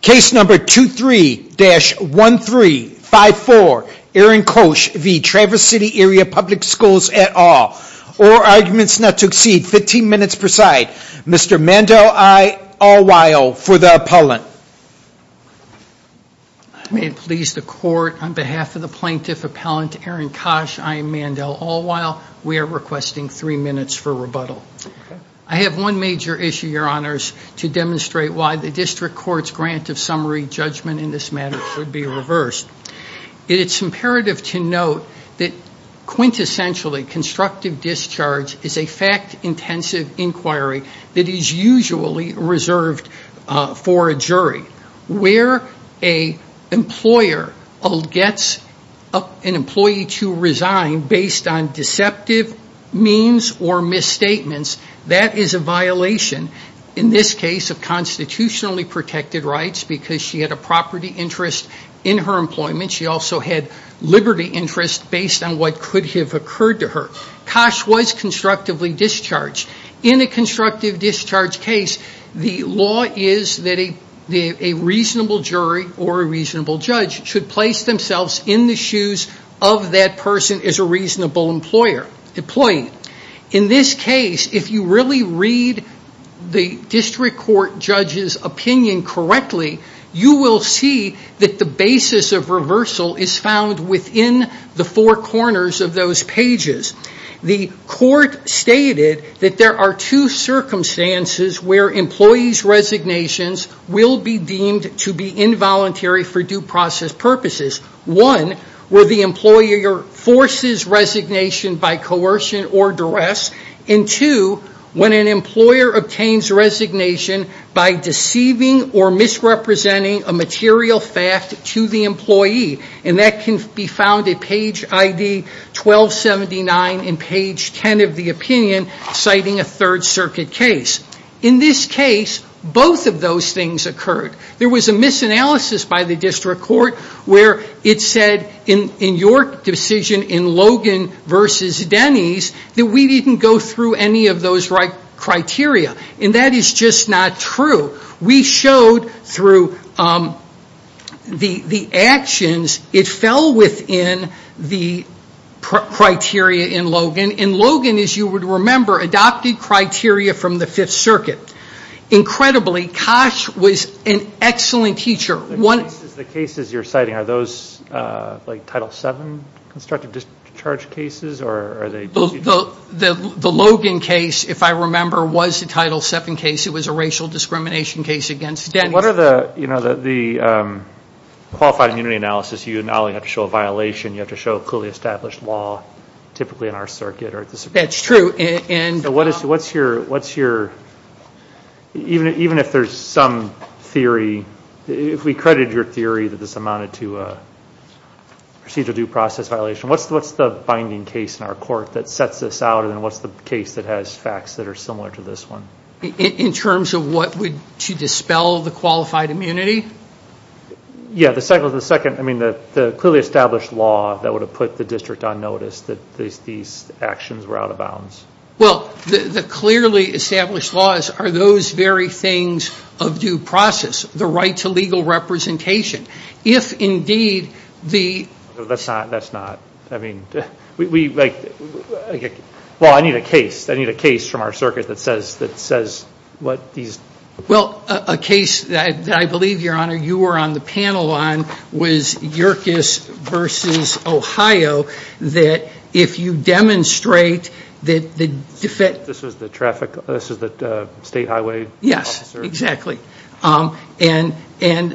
Case number 23-1354, Aaron Kosch v. Traverse City Area Public Schools et al. All arguments not to exceed 15 minutes per side. Mr. Mandel Allwile for the appellant. I may please the court, on behalf of the plaintiff appellant Aaron Kosch, I am Mandel Allwile. We are requesting three minutes for rebuttal. I have one major issue, your honors, to demonstrate why the district court's grant of summary judgment in this matter should be reversed. It is imperative to note that, quintessentially, constructive discharge is a fact-intensive inquiry that is usually reserved for a jury. Where an employer gets an employee to resign based on deceptive means or misstatements, that is a violation, in this case, of constitutionally protected rights because she had a property interest in her employment. She also had liberty interest based on what could have occurred to her. Kosch was constructively discharged. In a constructive discharge case, the law is that a reasonable jury or a reasonable judge should place themselves in the shoes of that person as a reasonable employee. In this case, if you really read the district court judge's opinion correctly, you will see that the basis of reversal is found within the four corners of those pages. The court stated that there are two circumstances where employees' resignations will be deemed to be involuntary for due process purposes. One, where the employer forces resignation by coercion or duress. Two, when an employer obtains resignation by deceiving or misrepresenting a material fact to the employee. That can be found at page ID 1279 and page 10 of the opinion citing a Third Circuit case. In this case, both of those things occurred. There was a misanalysis by the district court where it said in your decision in Logan v. Denny's that we didn't go through any of those criteria. That is just not true. We showed through the actions, it fell within the criteria in Logan. And Logan, as you would remember, adopted criteria from the Fifth Circuit. Incredibly, Koch was an excellent teacher. The cases you are citing, are those Title VII constructive discharge cases? The Logan case, if I remember, was a Title VII case. It was a racial discrimination case against Denny's. What are the qualified immunity analysis? You not only have to show a violation, you have to show a clearly established law, typically in our circuit. That is true. What is your, even if there is some theory, if we credit your theory that this amounted to a procedural due process violation, what is the binding case in our court that sets this out? And what is the case that has facts that are similar to this one? In terms of what would dispel the qualified immunity? Yes, the clearly established law that would have put the district on notice that these actions were out of bounds. Well, the clearly established laws are those very things of due process. The right to legal representation. That's not, that's not. Well, I need a case. I need a case from our circuit that says what these. Well, a case that I believe, Your Honor, you were on the panel on was Yerkes versus Ohio. That if you demonstrate that the defense. This was the traffic, this was the state highway. Yes, exactly. And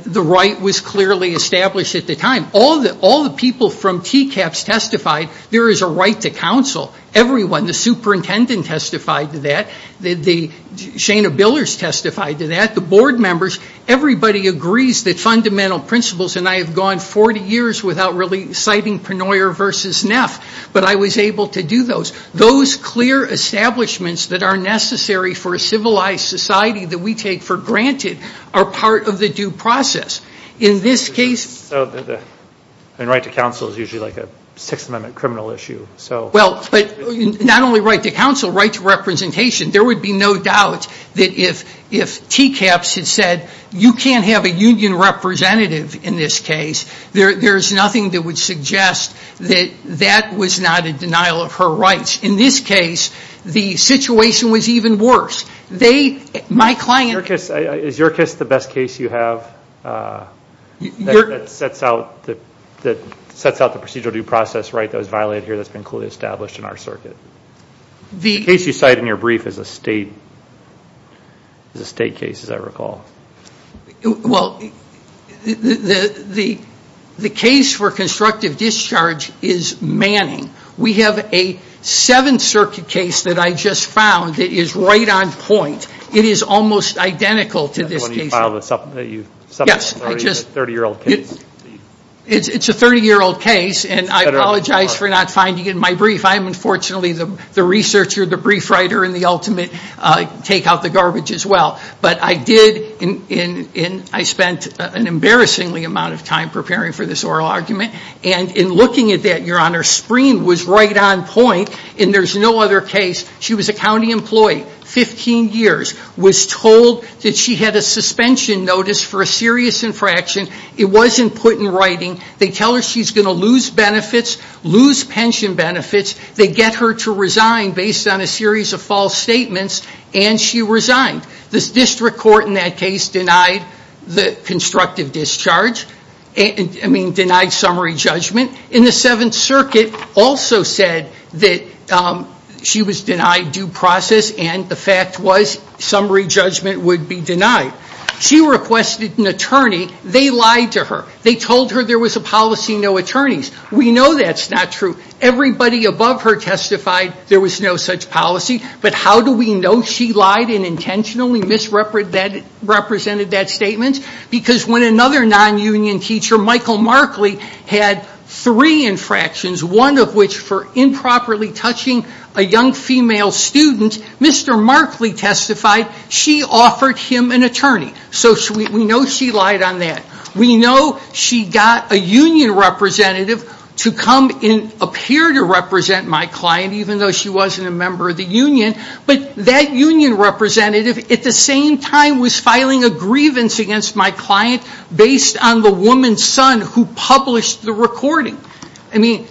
the right was clearly established at the time. All the people from TCAPS testified there is a right to counsel. Everyone, the superintendent testified to that. The, Shana Billers testified to that. The board members, everybody agrees that fundamental principles, and I have gone 40 years without really citing Penoyer versus Neff, but I was able to do those. Those clear establishments that are necessary for a civilized society that we take for granted are part of the due process. In this case. And right to counsel is usually like a Sixth Amendment criminal issue. Well, but not only right to counsel, right to representation. There would be no doubt that if TCAPS had said you can't have a union representative in this case, there's nothing that would suggest that that was not a denial of her rights. In this case, the situation was even worse. They, my client. Is Yerkes the best case you have that sets out the procedural due process right that was violated here that's been clearly established in our circuit? The case you cite in your brief is a state case as I recall. Well, the case for constructive discharge is Manning. We have a Seventh Circuit case that I just found that is right on point. It is almost identical to this case. Yes, I just. It's a 30-year-old case. It's a 30-year-old case, and I apologize for not finding it in my brief. I'm unfortunately the researcher, the brief writer, and the ultimate take out the garbage as well. But I did, and I spent an embarrassingly amount of time preparing for this oral argument. And in looking at that, Your Honor, Spreen was right on point, and there's no other case. She was a county employee, 15 years, was told that she had a suspension notice for a serious infraction. It wasn't put in writing. They tell her she's going to lose benefits, lose pension benefits. They get her to resign based on a series of false statements, and she resigned. The district court in that case denied the constructive discharge. I mean, denied summary judgment. And the Seventh Circuit also said that she was denied due process, and the fact was summary judgment would be denied. She requested an attorney. They lied to her. They told her there was a policy, no attorneys. We know that's not true. Everybody above her testified there was no such policy. But how do we know she lied and intentionally misrepresented that statement? Because when another non-union teacher, Michael Markley, had three infractions, one of which for improperly touching a young female student, Mr. Markley testified she offered him an attorney. So we know she lied on that. We know she got a union representative to come and appear to represent my client, even though she wasn't a member of the union. But that union representative at the same time was filing a grievance against my client based on the woman's son who published the recording. I mean,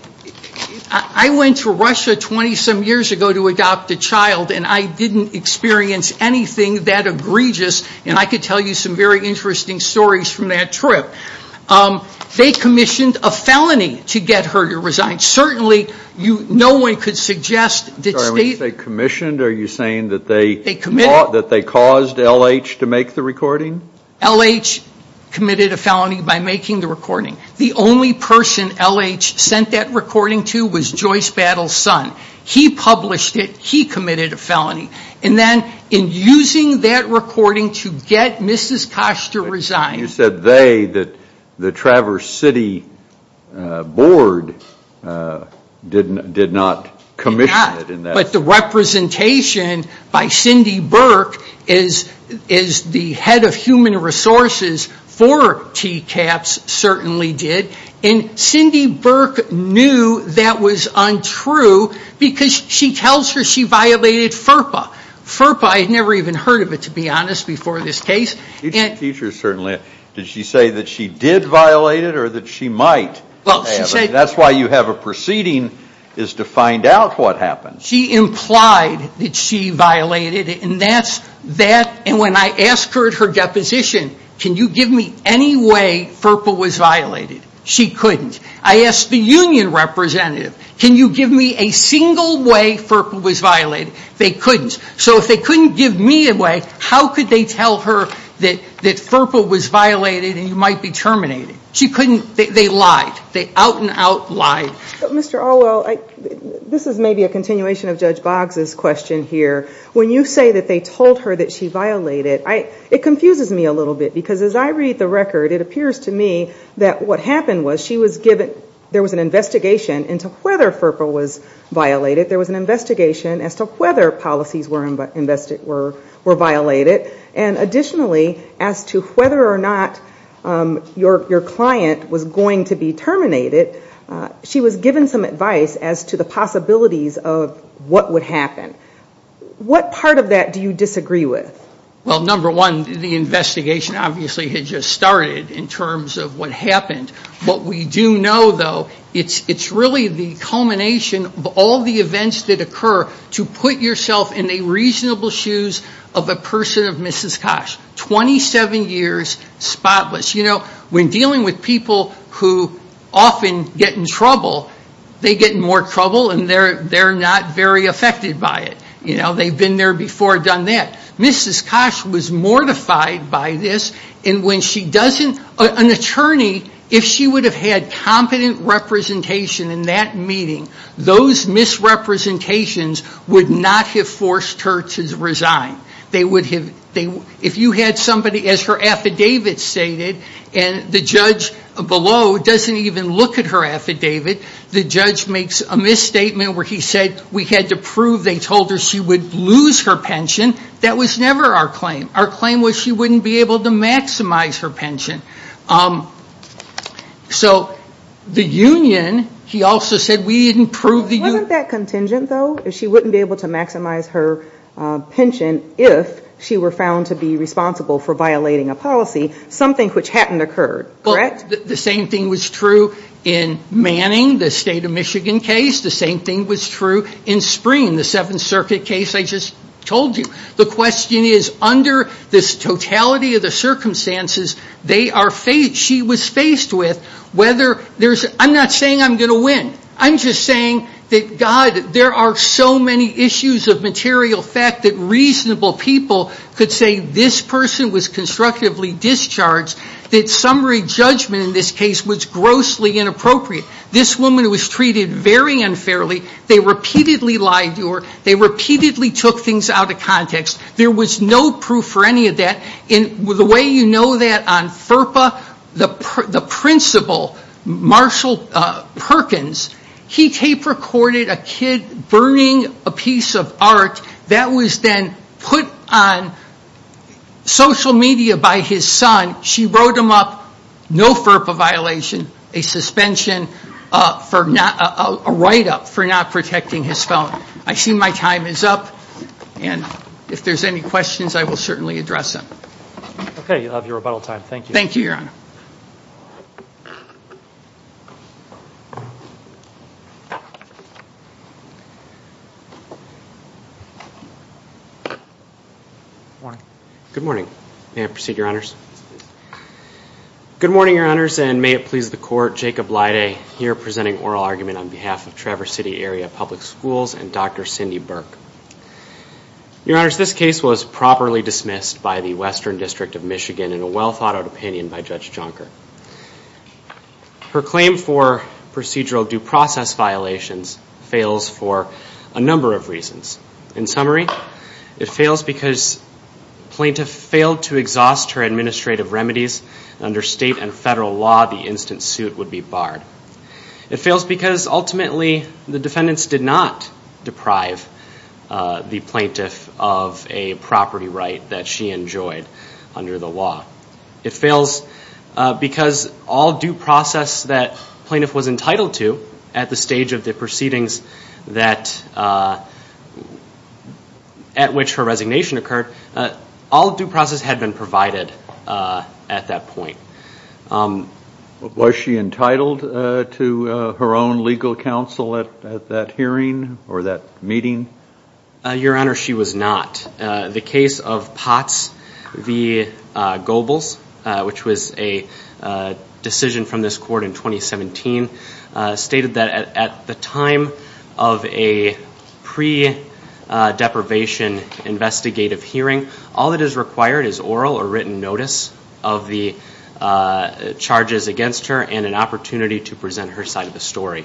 I went to Russia 20-some years ago to adopt a child, and I didn't experience anything that egregious, and I could tell you some very interesting stories from that trip. They commissioned a felony to get her to resign. Certainly, no one could suggest that state- When you say commissioned, are you saying that they caused L.H. to make the recording? L.H. committed a felony by making the recording. The only person L.H. sent that recording to was Joyce Battle's son. He published it. He committed a felony. And then in using that recording to get Mrs. Koster to resign- You said they, the Traverse City Board, did not commission it. But the representation by Cindy Burke, as the head of human resources for TCAPS, certainly did. And Cindy Burke knew that was untrue because she tells her she violated FERPA. FERPA, I had never even heard of it, to be honest, before this case. Teachers certainly- Did she say that she did violate it or that she might? That's why you have a proceeding, is to find out what happened. She implied that she violated it, and that's- And when I asked her at her deposition, can you give me any way FERPA was violated? She couldn't. I asked the union representative, can you give me a single way FERPA was violated? They couldn't. So if they couldn't give me a way, how could they tell her that FERPA was violated and you might be terminated? She couldn't. They lied. They out and out lied. Mr. Orwell, this is maybe a continuation of Judge Boggs' question here. When you say that they told her that she violated, it confuses me a little bit. Because as I read the record, it appears to me that what happened was she was given- There was an investigation into whether FERPA was violated. There was an investigation as to whether policies were violated. And additionally, as to whether or not your client was going to be terminated, she was given some advice as to the possibilities of what would happen. What part of that do you disagree with? Well, number one, the investigation obviously had just started in terms of what happened. What we do know, though, it's really the culmination of all the events that occur to put yourself in the reasonable shoes of a person of Mrs. Koch. Twenty-seven years spotless. You know, when dealing with people who often get in trouble, they get in more trouble and they're not very affected by it. They've been there before, done that. Mrs. Koch was mortified by this. An attorney, if she would have had competent representation in that meeting, those misrepresentations would not have forced her to resign. If you had somebody, as her affidavit stated, and the judge below doesn't even look at her affidavit, the judge makes a misstatement where he said, we had to prove they told her she would lose her pension. That was never our claim. Our claim was she wouldn't be able to maximize her pension. So the union, he also said, we didn't prove the union. Wasn't that contingent, though? She wouldn't be able to maximize her pension if she were found to be responsible for violating a policy, something which hadn't occurred, correct? The same thing was true in Manning, the State of Michigan case. The same thing was true in Spring, the Seventh Circuit case I just told you. The question is, under this totality of the circumstances, she was faced with whether there's, I'm not saying I'm going to win. I'm just saying that, God, there are so many issues of material fact that reasonable people could say this person was constructively discharged, that summary judgment in this case was grossly inappropriate. This woman was treated very unfairly. They repeatedly lied to her. There was no proof for any of that. The way you know that on FERPA, the principal, Marshall Perkins, he tape recorded a kid burning a piece of art that was then put on social media by his son. She wrote him up, no FERPA violation, a suspension, a write-up for not protecting his phone. I see my time is up. And if there's any questions, I will certainly address them. Okay, you'll have your rebuttal time. Thank you. Thank you, Your Honor. Good morning. Good morning. May I proceed, Your Honors? Good morning, Your Honors, and may it please the Court, Jacob Lyday here presenting oral argument on behalf of Traverse City Area Public Schools and Dr. Cindy Burke. Your Honors, this case was properly dismissed by the Western District of Michigan in a well-thought-out opinion by Judge Jonker. Her claim for procedural due process violations fails for a number of reasons. In summary, it fails because plaintiff failed to exhaust her administrative remedies. Under state and federal law, the instant suit would be barred. It fails because ultimately the defendants did not deprive the plaintiff of a property right that she enjoyed under the law. It fails because all due process that plaintiff was entitled to at the stage of the proceedings at which her resignation occurred, all due process had been provided at that point. Was she entitled to her own legal counsel at that hearing or that meeting? Your Honor, she was not. The case of Potts v. Goebbels, which was a decision from this court in 2017, stated that at the time of a pre-deprivation investigative hearing, all that is charges against her and an opportunity to present her side of the story.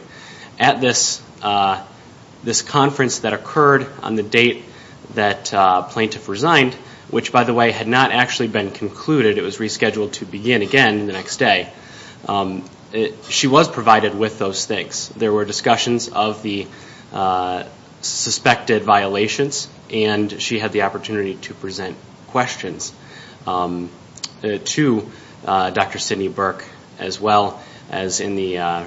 At this conference that occurred on the date that plaintiff resigned, which, by the way, had not actually been concluded. It was rescheduled to begin again the next day. She was provided with those things. There were discussions of the suspected violations, and she had the opportunity to present questions. To Dr. Sidney Burke, as well as in the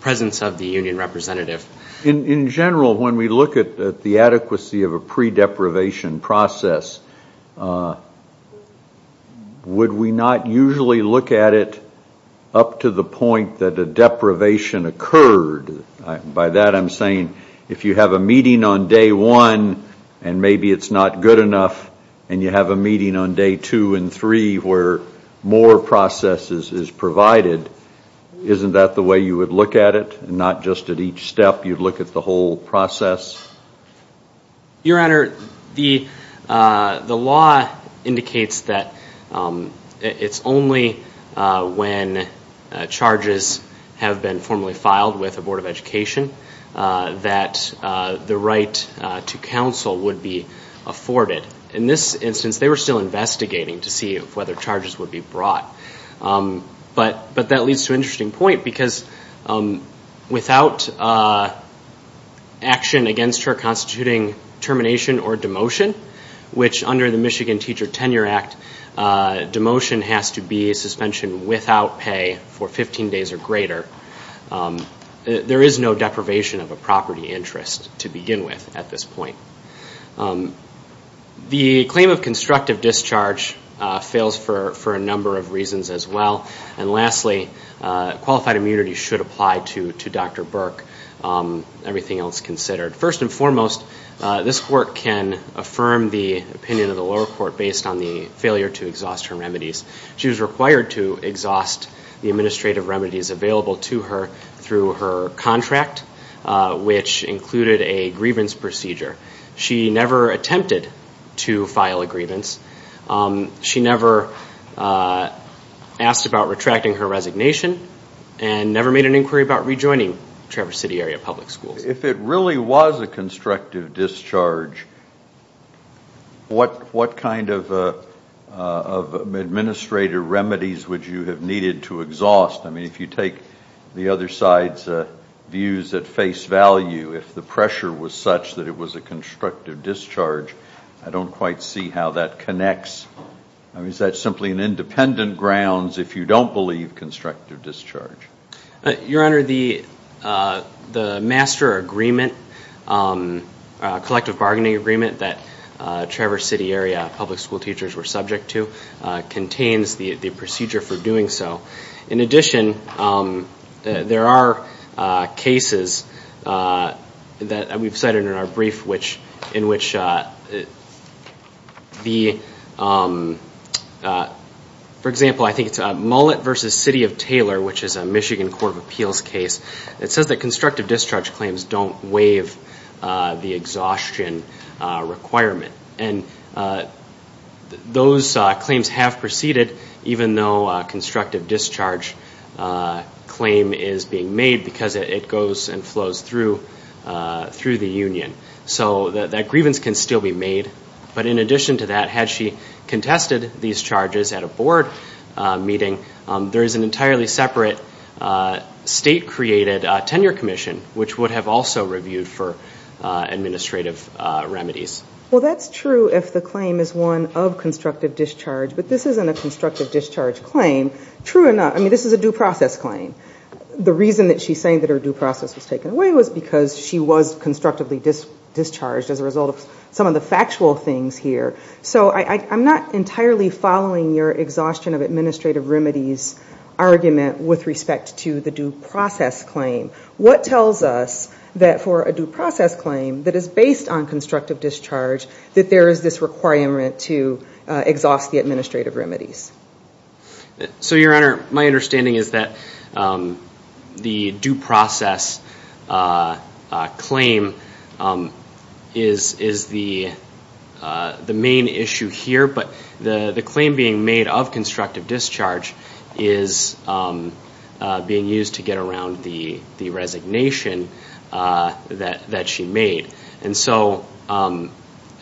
presence of the union representative. In general, when we look at the adequacy of a pre-deprivation process, would we not usually look at it up to the point that a deprivation occurred? By that I'm saying if you have a meeting on day one and maybe it's not good enough, and you have a meeting on day two and three where more process is provided, isn't that the way you would look at it? Not just at each step, you'd look at the whole process? Your Honor, the law indicates that it's only when charges have been formally filed with the Board of Education that the right to counsel would be afforded. In this instance, they were still investigating to see whether charges would be brought. But that leads to an interesting point, because without action against her constituting termination or demotion, which under the Michigan Teacher Tenure Act, demotion has to be suspension without pay for 15 days or greater. There is no deprivation of a property interest to begin with at this point. The claim of constructive discharge fails for a number of reasons as well. And lastly, qualified immunity should apply to Dr. Burke, everything else considered. First and foremost, this Court can affirm the opinion of the lower court based on the failure to exhaust her remedies. She was required to exhaust the administrative remedies available to her through her contract, which included a grievance procedure. She never attempted to file a grievance. She never asked about retracting her resignation and never made an inquiry about rejoining Traverse City Area Public Schools. If it really was a constructive discharge, what kind of administrative remedies would you have needed to exhaust? I mean, if you take the other side's views at face value, if the pressure was such that it was a constructive discharge, I don't quite see how that connects. I mean, is that simply an independent grounds if you don't believe constructive discharge? Your Honor, the master agreement, collective bargaining agreement that Traverse City Area public school teachers were subject to contains the procedure for doing so. In addition, there are cases that we've cited in our brief in which the, for example, I think it's Michigan Court of Appeals case. It says that constructive discharge claims don't waive the exhaustion requirement. And those claims have proceeded even though a constructive discharge claim is being made because it goes and flows through the union. So that grievance can still be made. But in addition to that, had she contested these charges at a board meeting, there is an entirely separate state-created tenure commission which would have also reviewed for administrative remedies. Well, that's true if the claim is one of constructive discharge. But this isn't a constructive discharge claim. True or not, I mean, this is a due process claim. The reason that she's saying that her due process was taken away was because she was constructively discharged as a result of some of the factual things here. So I'm not entirely following your exhaustion of administrative remedies argument with respect to the due process claim. What tells us that for a due process claim that is based on constructive discharge, that there is this requirement to exhaust the administrative remedies? So, Your Honor, my understanding is that the due process claim is the main issue here. But the claim being made of constructive discharge is being used to get around the resignation that she made. And so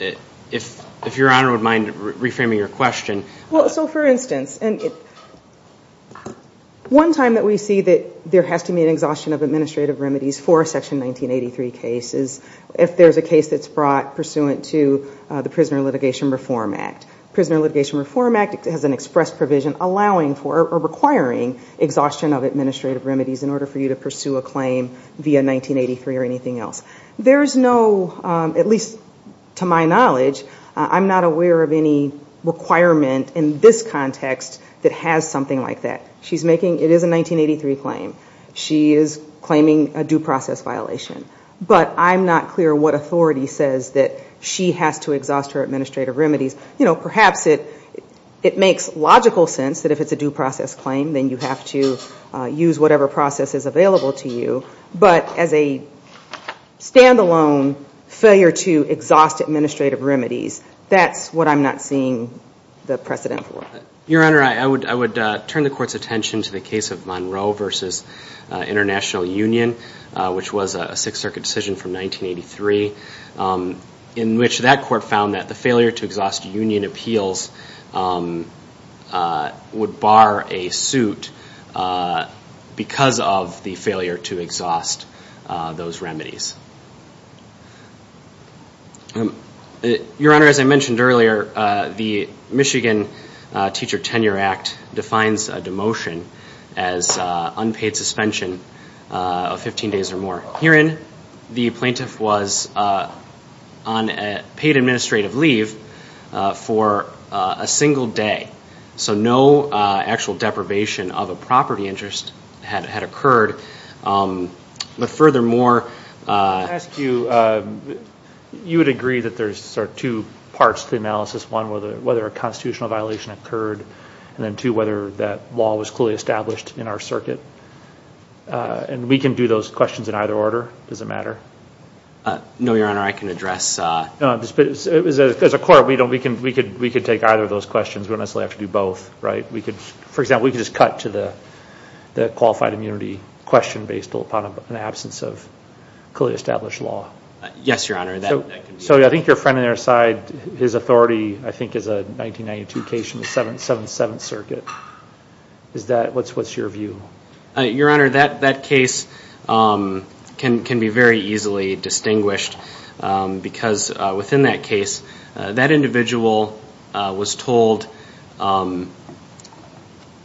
if Your Honor would mind reframing your question. Well, so for instance, one time that we see that there has to be an exhaustion of administrative remedies for a Section 1983 case is if there's a case that's brought pursuant to the Prisoner Litigation Reform Act. Prisoner Litigation Reform Act has an express provision allowing for or requiring exhaustion of administrative remedies in order for you to pursue a claim via 1983 or anything else. There's no, at least to my knowledge, I'm not aware of any requirement in this context that has something like that. She's making, it is a 1983 claim. She is claiming a due process violation. But I'm not clear what authority says that she has to exhaust her administrative remedies. You know, perhaps it makes logical sense that if it's a due process claim, then you have to use whatever process is available to you. But as a stand-alone failure to exhaust administrative remedies, that's what I'm not seeing the precedent for. Your Honor, I would turn the Court's attention to the case of Monroe v. International Union, which was a Sixth Circuit decision from 1983 in which that Court found that the failure to exhaust union appeals would bar a suit because of the failure to exhaust those remedies. Your Honor, as I mentioned earlier, the Michigan Teacher Tenure Act defines a demotion as unpaid suspension of 15 days or more. Herein, the plaintiff was on paid administrative leave for a single day. So no actual deprivation of a property interest had occurred. But furthermore- I would ask you, you would agree that there are two parts to the analysis. One, whether a constitutional violation occurred. And then two, whether that law was clearly established in our circuit. And we can do those questions in either order. Does it matter? No, Your Honor, I can address- As a Court, we could take either of those questions. We don't necessarily have to do both. For example, we could just cut to the qualified immunity question based upon an absence of clearly established law. Yes, Your Honor. So I think your friend on our side, his authority, I think is a 1992 case in the 7th Circuit. What's your view? Your Honor, that case can be very easily distinguished because within that case, that individual was told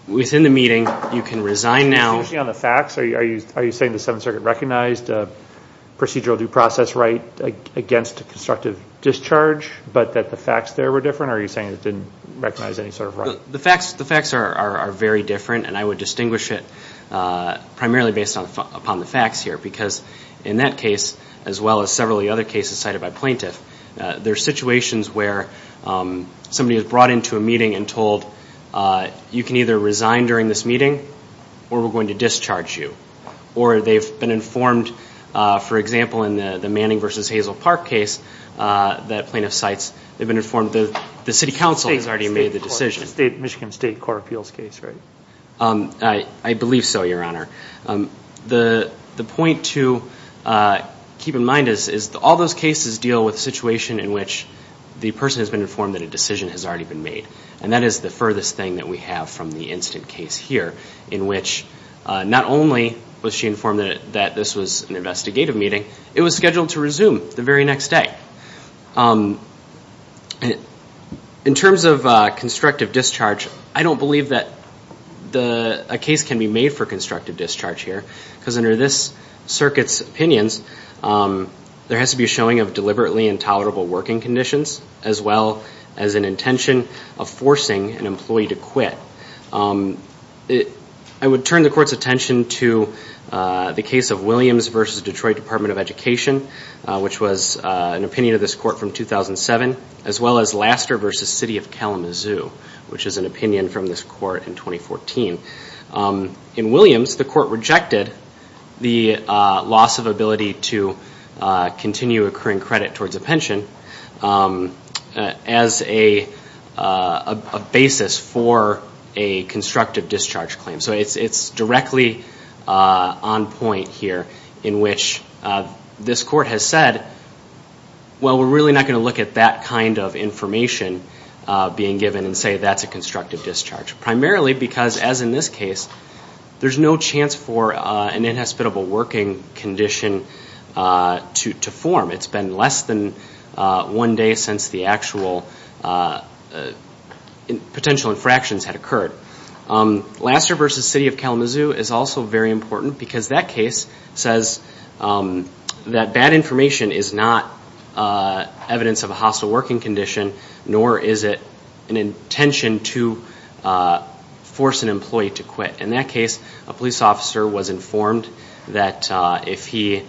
within the meeting, you can resign now- Are you saying the 7th Circuit recognized procedural due process right against constructive discharge, but that the facts there were different? Or are you saying it didn't recognize any sort of right? The facts are very different, and I would distinguish it primarily based upon the facts here. Because in that case, as well as several of the other cases cited by plaintiffs, there are situations where somebody is brought into a meeting and told, you can either resign during this meeting or we're going to discharge you. Or they've been informed, for example, in the Manning v. Hazel Park case that plaintiff cites, they've been informed the City Council has already made the decision. The Michigan State Court of Appeals case, right? I believe so, Your Honor. The point to keep in mind is all those cases deal with a situation in which the person has been informed that a decision has already been made. And that is the furthest thing that we have from the incident case here, in which not only was she informed that this was an investigative meeting, it was scheduled to resume the very next day. In terms of constructive discharge, I don't believe that a case can be made for constructive discharge here, because under this Circuit's opinions, there has to be a showing of deliberately intolerable working conditions, as well as an intention of forcing an employee to quit. I would turn the Court's attention to the case of Williams v. Detroit Department of Education, which was an opinion of this Court from 2007, as well as Laster v. City of Kalamazoo, which is an opinion from this Court in 2014. In Williams, the Court rejected the loss of ability to continue accruing credit towards a pension as a basis for a constructive discharge claim. So it's directly on point here, in which this Court has said, well, we're really not going to look at that kind of information being given and say that's a constructive discharge. Primarily because, as in this case, there's no chance for an inhospitable working condition to form. It's been less than one day since the actual potential infractions had occurred. Laster v. City of Kalamazoo is also very important, because that case says that bad information is not evidence of a hostile working condition, nor is it an intention to force an employee to quit. In that case, a police officer was informed that if he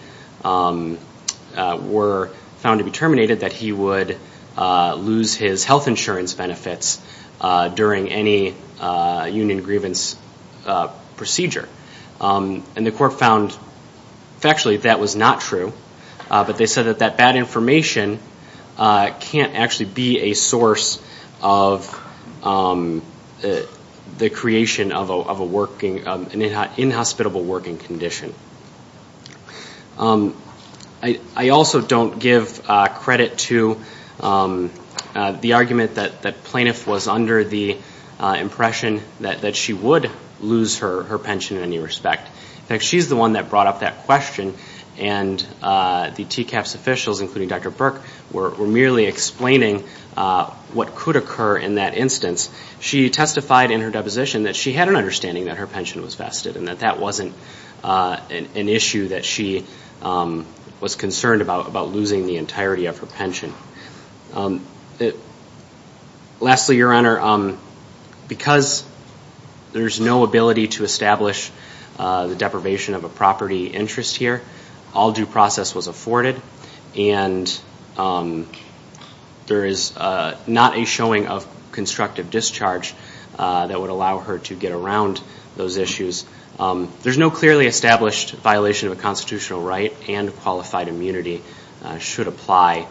were found to be terminated, that he would lose his health insurance benefits during any union grievance procedure. And the Court found factually that was not true, but they said that that bad information can't actually be a source of the creation of an inhospitable working condition. I also don't give credit to the argument that Plaintiff was under the impression that she would lose her pension in any respect. In fact, she's the one that brought up that question, and the TCAPS officials, including Dr. Burke, were merely explaining what could occur in that instance. She testified in her deposition that she had an understanding that her pension was vested and that that wasn't an issue that she was concerned about losing the entirety of her pension. Lastly, Your Honor, because there's no ability to establish the deprivation of a property interest here, all due process was afforded and there is not a showing of constructive discharge that would allow her to get around those issues. There's no clearly established violation of a constitutional right, and qualified immunity should apply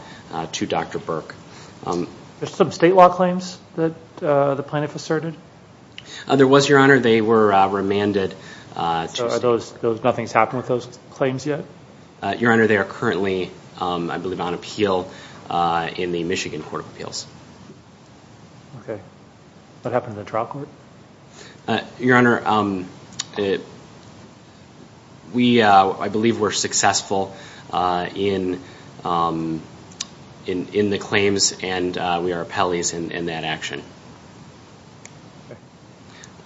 to Dr. Burke. There's some state law claims that the Plaintiff asserted? There was, Your Honor. They were remanded. So nothing's happened with those claims yet? Your Honor, they are currently, I believe, on appeal in the Michigan Court of Appeals. Okay. What happened to the trial court? Your Honor, we, I believe, were successful in the claims and we are appellees in that action.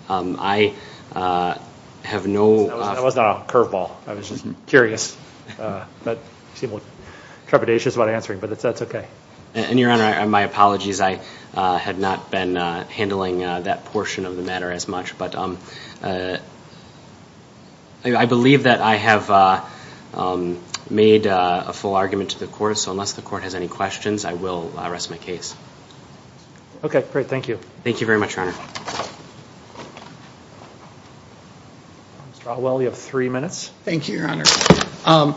I have no… That was not a curveball. I was just curious. You seem a little trepidatious about answering, but that's okay. And, Your Honor, my apologies. I had not been handling that portion of the matter as much, but I believe that I have made a full argument to the court. So unless the court has any questions, I will rest my case. Okay. Great. Thank you. Thank you very much, Your Honor. Mr. Alwell, you have three minutes. Thank you, Your Honor.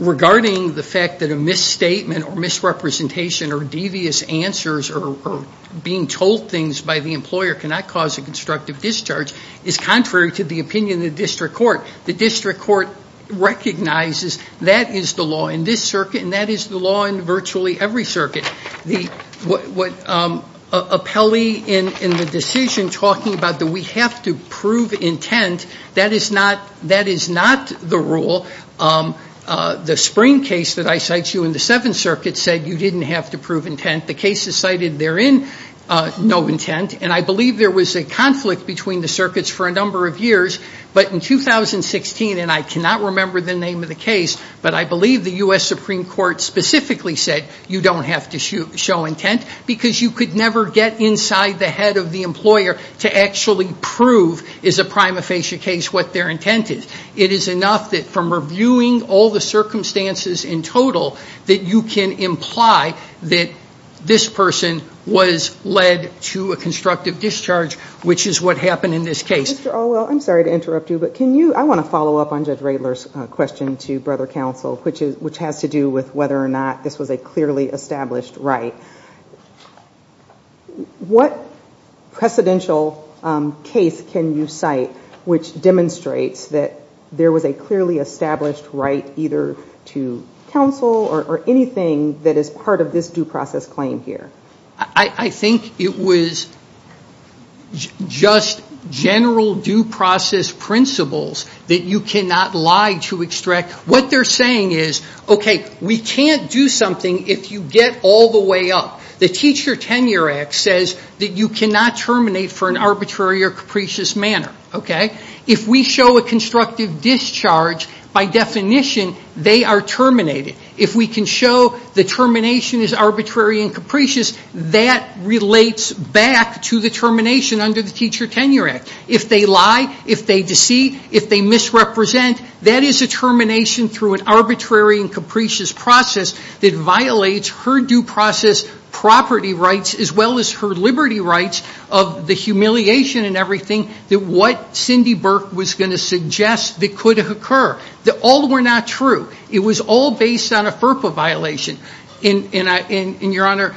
Regarding the fact that a misstatement or misrepresentation or devious answers or being told things by the employer cannot cause a constructive discharge is contrary to the opinion of the district court. The district court recognizes that is the law in this circuit and that is the law in virtually every circuit. The appellee in the decision talking about that we have to prove intent, that is not the rule. The Spring case that I cite you in the Seventh Circuit said you didn't have to prove intent. The cases cited therein, no intent. And I believe there was a conflict between the circuits for a number of years. But in 2016, and I cannot remember the name of the case, but I believe the U.S. Supreme Court specifically said you don't have to show intent because you could never get inside the head of the employer to actually prove is a prima facie case what their intent is. It is enough that from reviewing all the circumstances in total that you can imply that this person was led to a constructive discharge, which is what happened in this case. Mr. Alwell, I'm sorry to interrupt you, but I want to follow up on Judge Radler's question to Brother Counsel, which has to do with whether or not this was a clearly established right. What precedential case can you cite which demonstrates that there was a clearly established right either to counsel or anything that is part of this due process claim here? I think it was just general due process principles that you cannot lie to extract. What they're saying is, okay, we can't do something if you get all the way up. The Teacher Tenure Act says that you cannot terminate for an arbitrary or capricious manner. If we show a constructive discharge, by definition, they are terminated. If we can show the termination is arbitrary and capricious, that relates back to the termination under the Teacher Tenure Act. If they lie, if they deceive, if they misrepresent, that is a termination through an arbitrary and capricious process that violates her due process property rights as well as her liberty rights of the humiliation and everything that what Cindy Burke was going to suggest that could have occurred. All were not true. It was all based on a FERPA violation. Your Honor,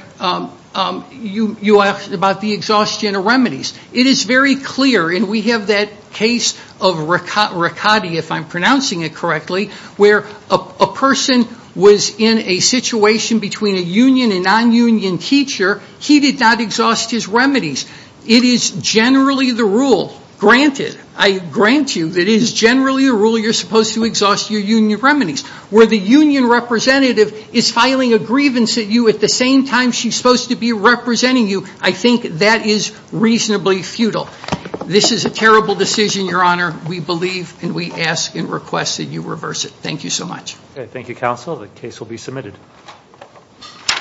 you asked about the exhaustion of remedies. It is very clear, and we have that case of Riccati, if I'm pronouncing it correctly, where a person was in a situation between a union and non-union teacher. He did not exhaust his remedies. It is generally the rule, granted, I grant you, that it is generally a rule you're supposed to exhaust your union remedies. Where the union representative is filing a grievance at you at the same time she's supposed to be representing you, I think that is reasonably futile. This is a terrible decision, Your Honor. We believe and we ask and request that you reverse it. Thank you so much. Thank you, Counsel. The case will be submitted.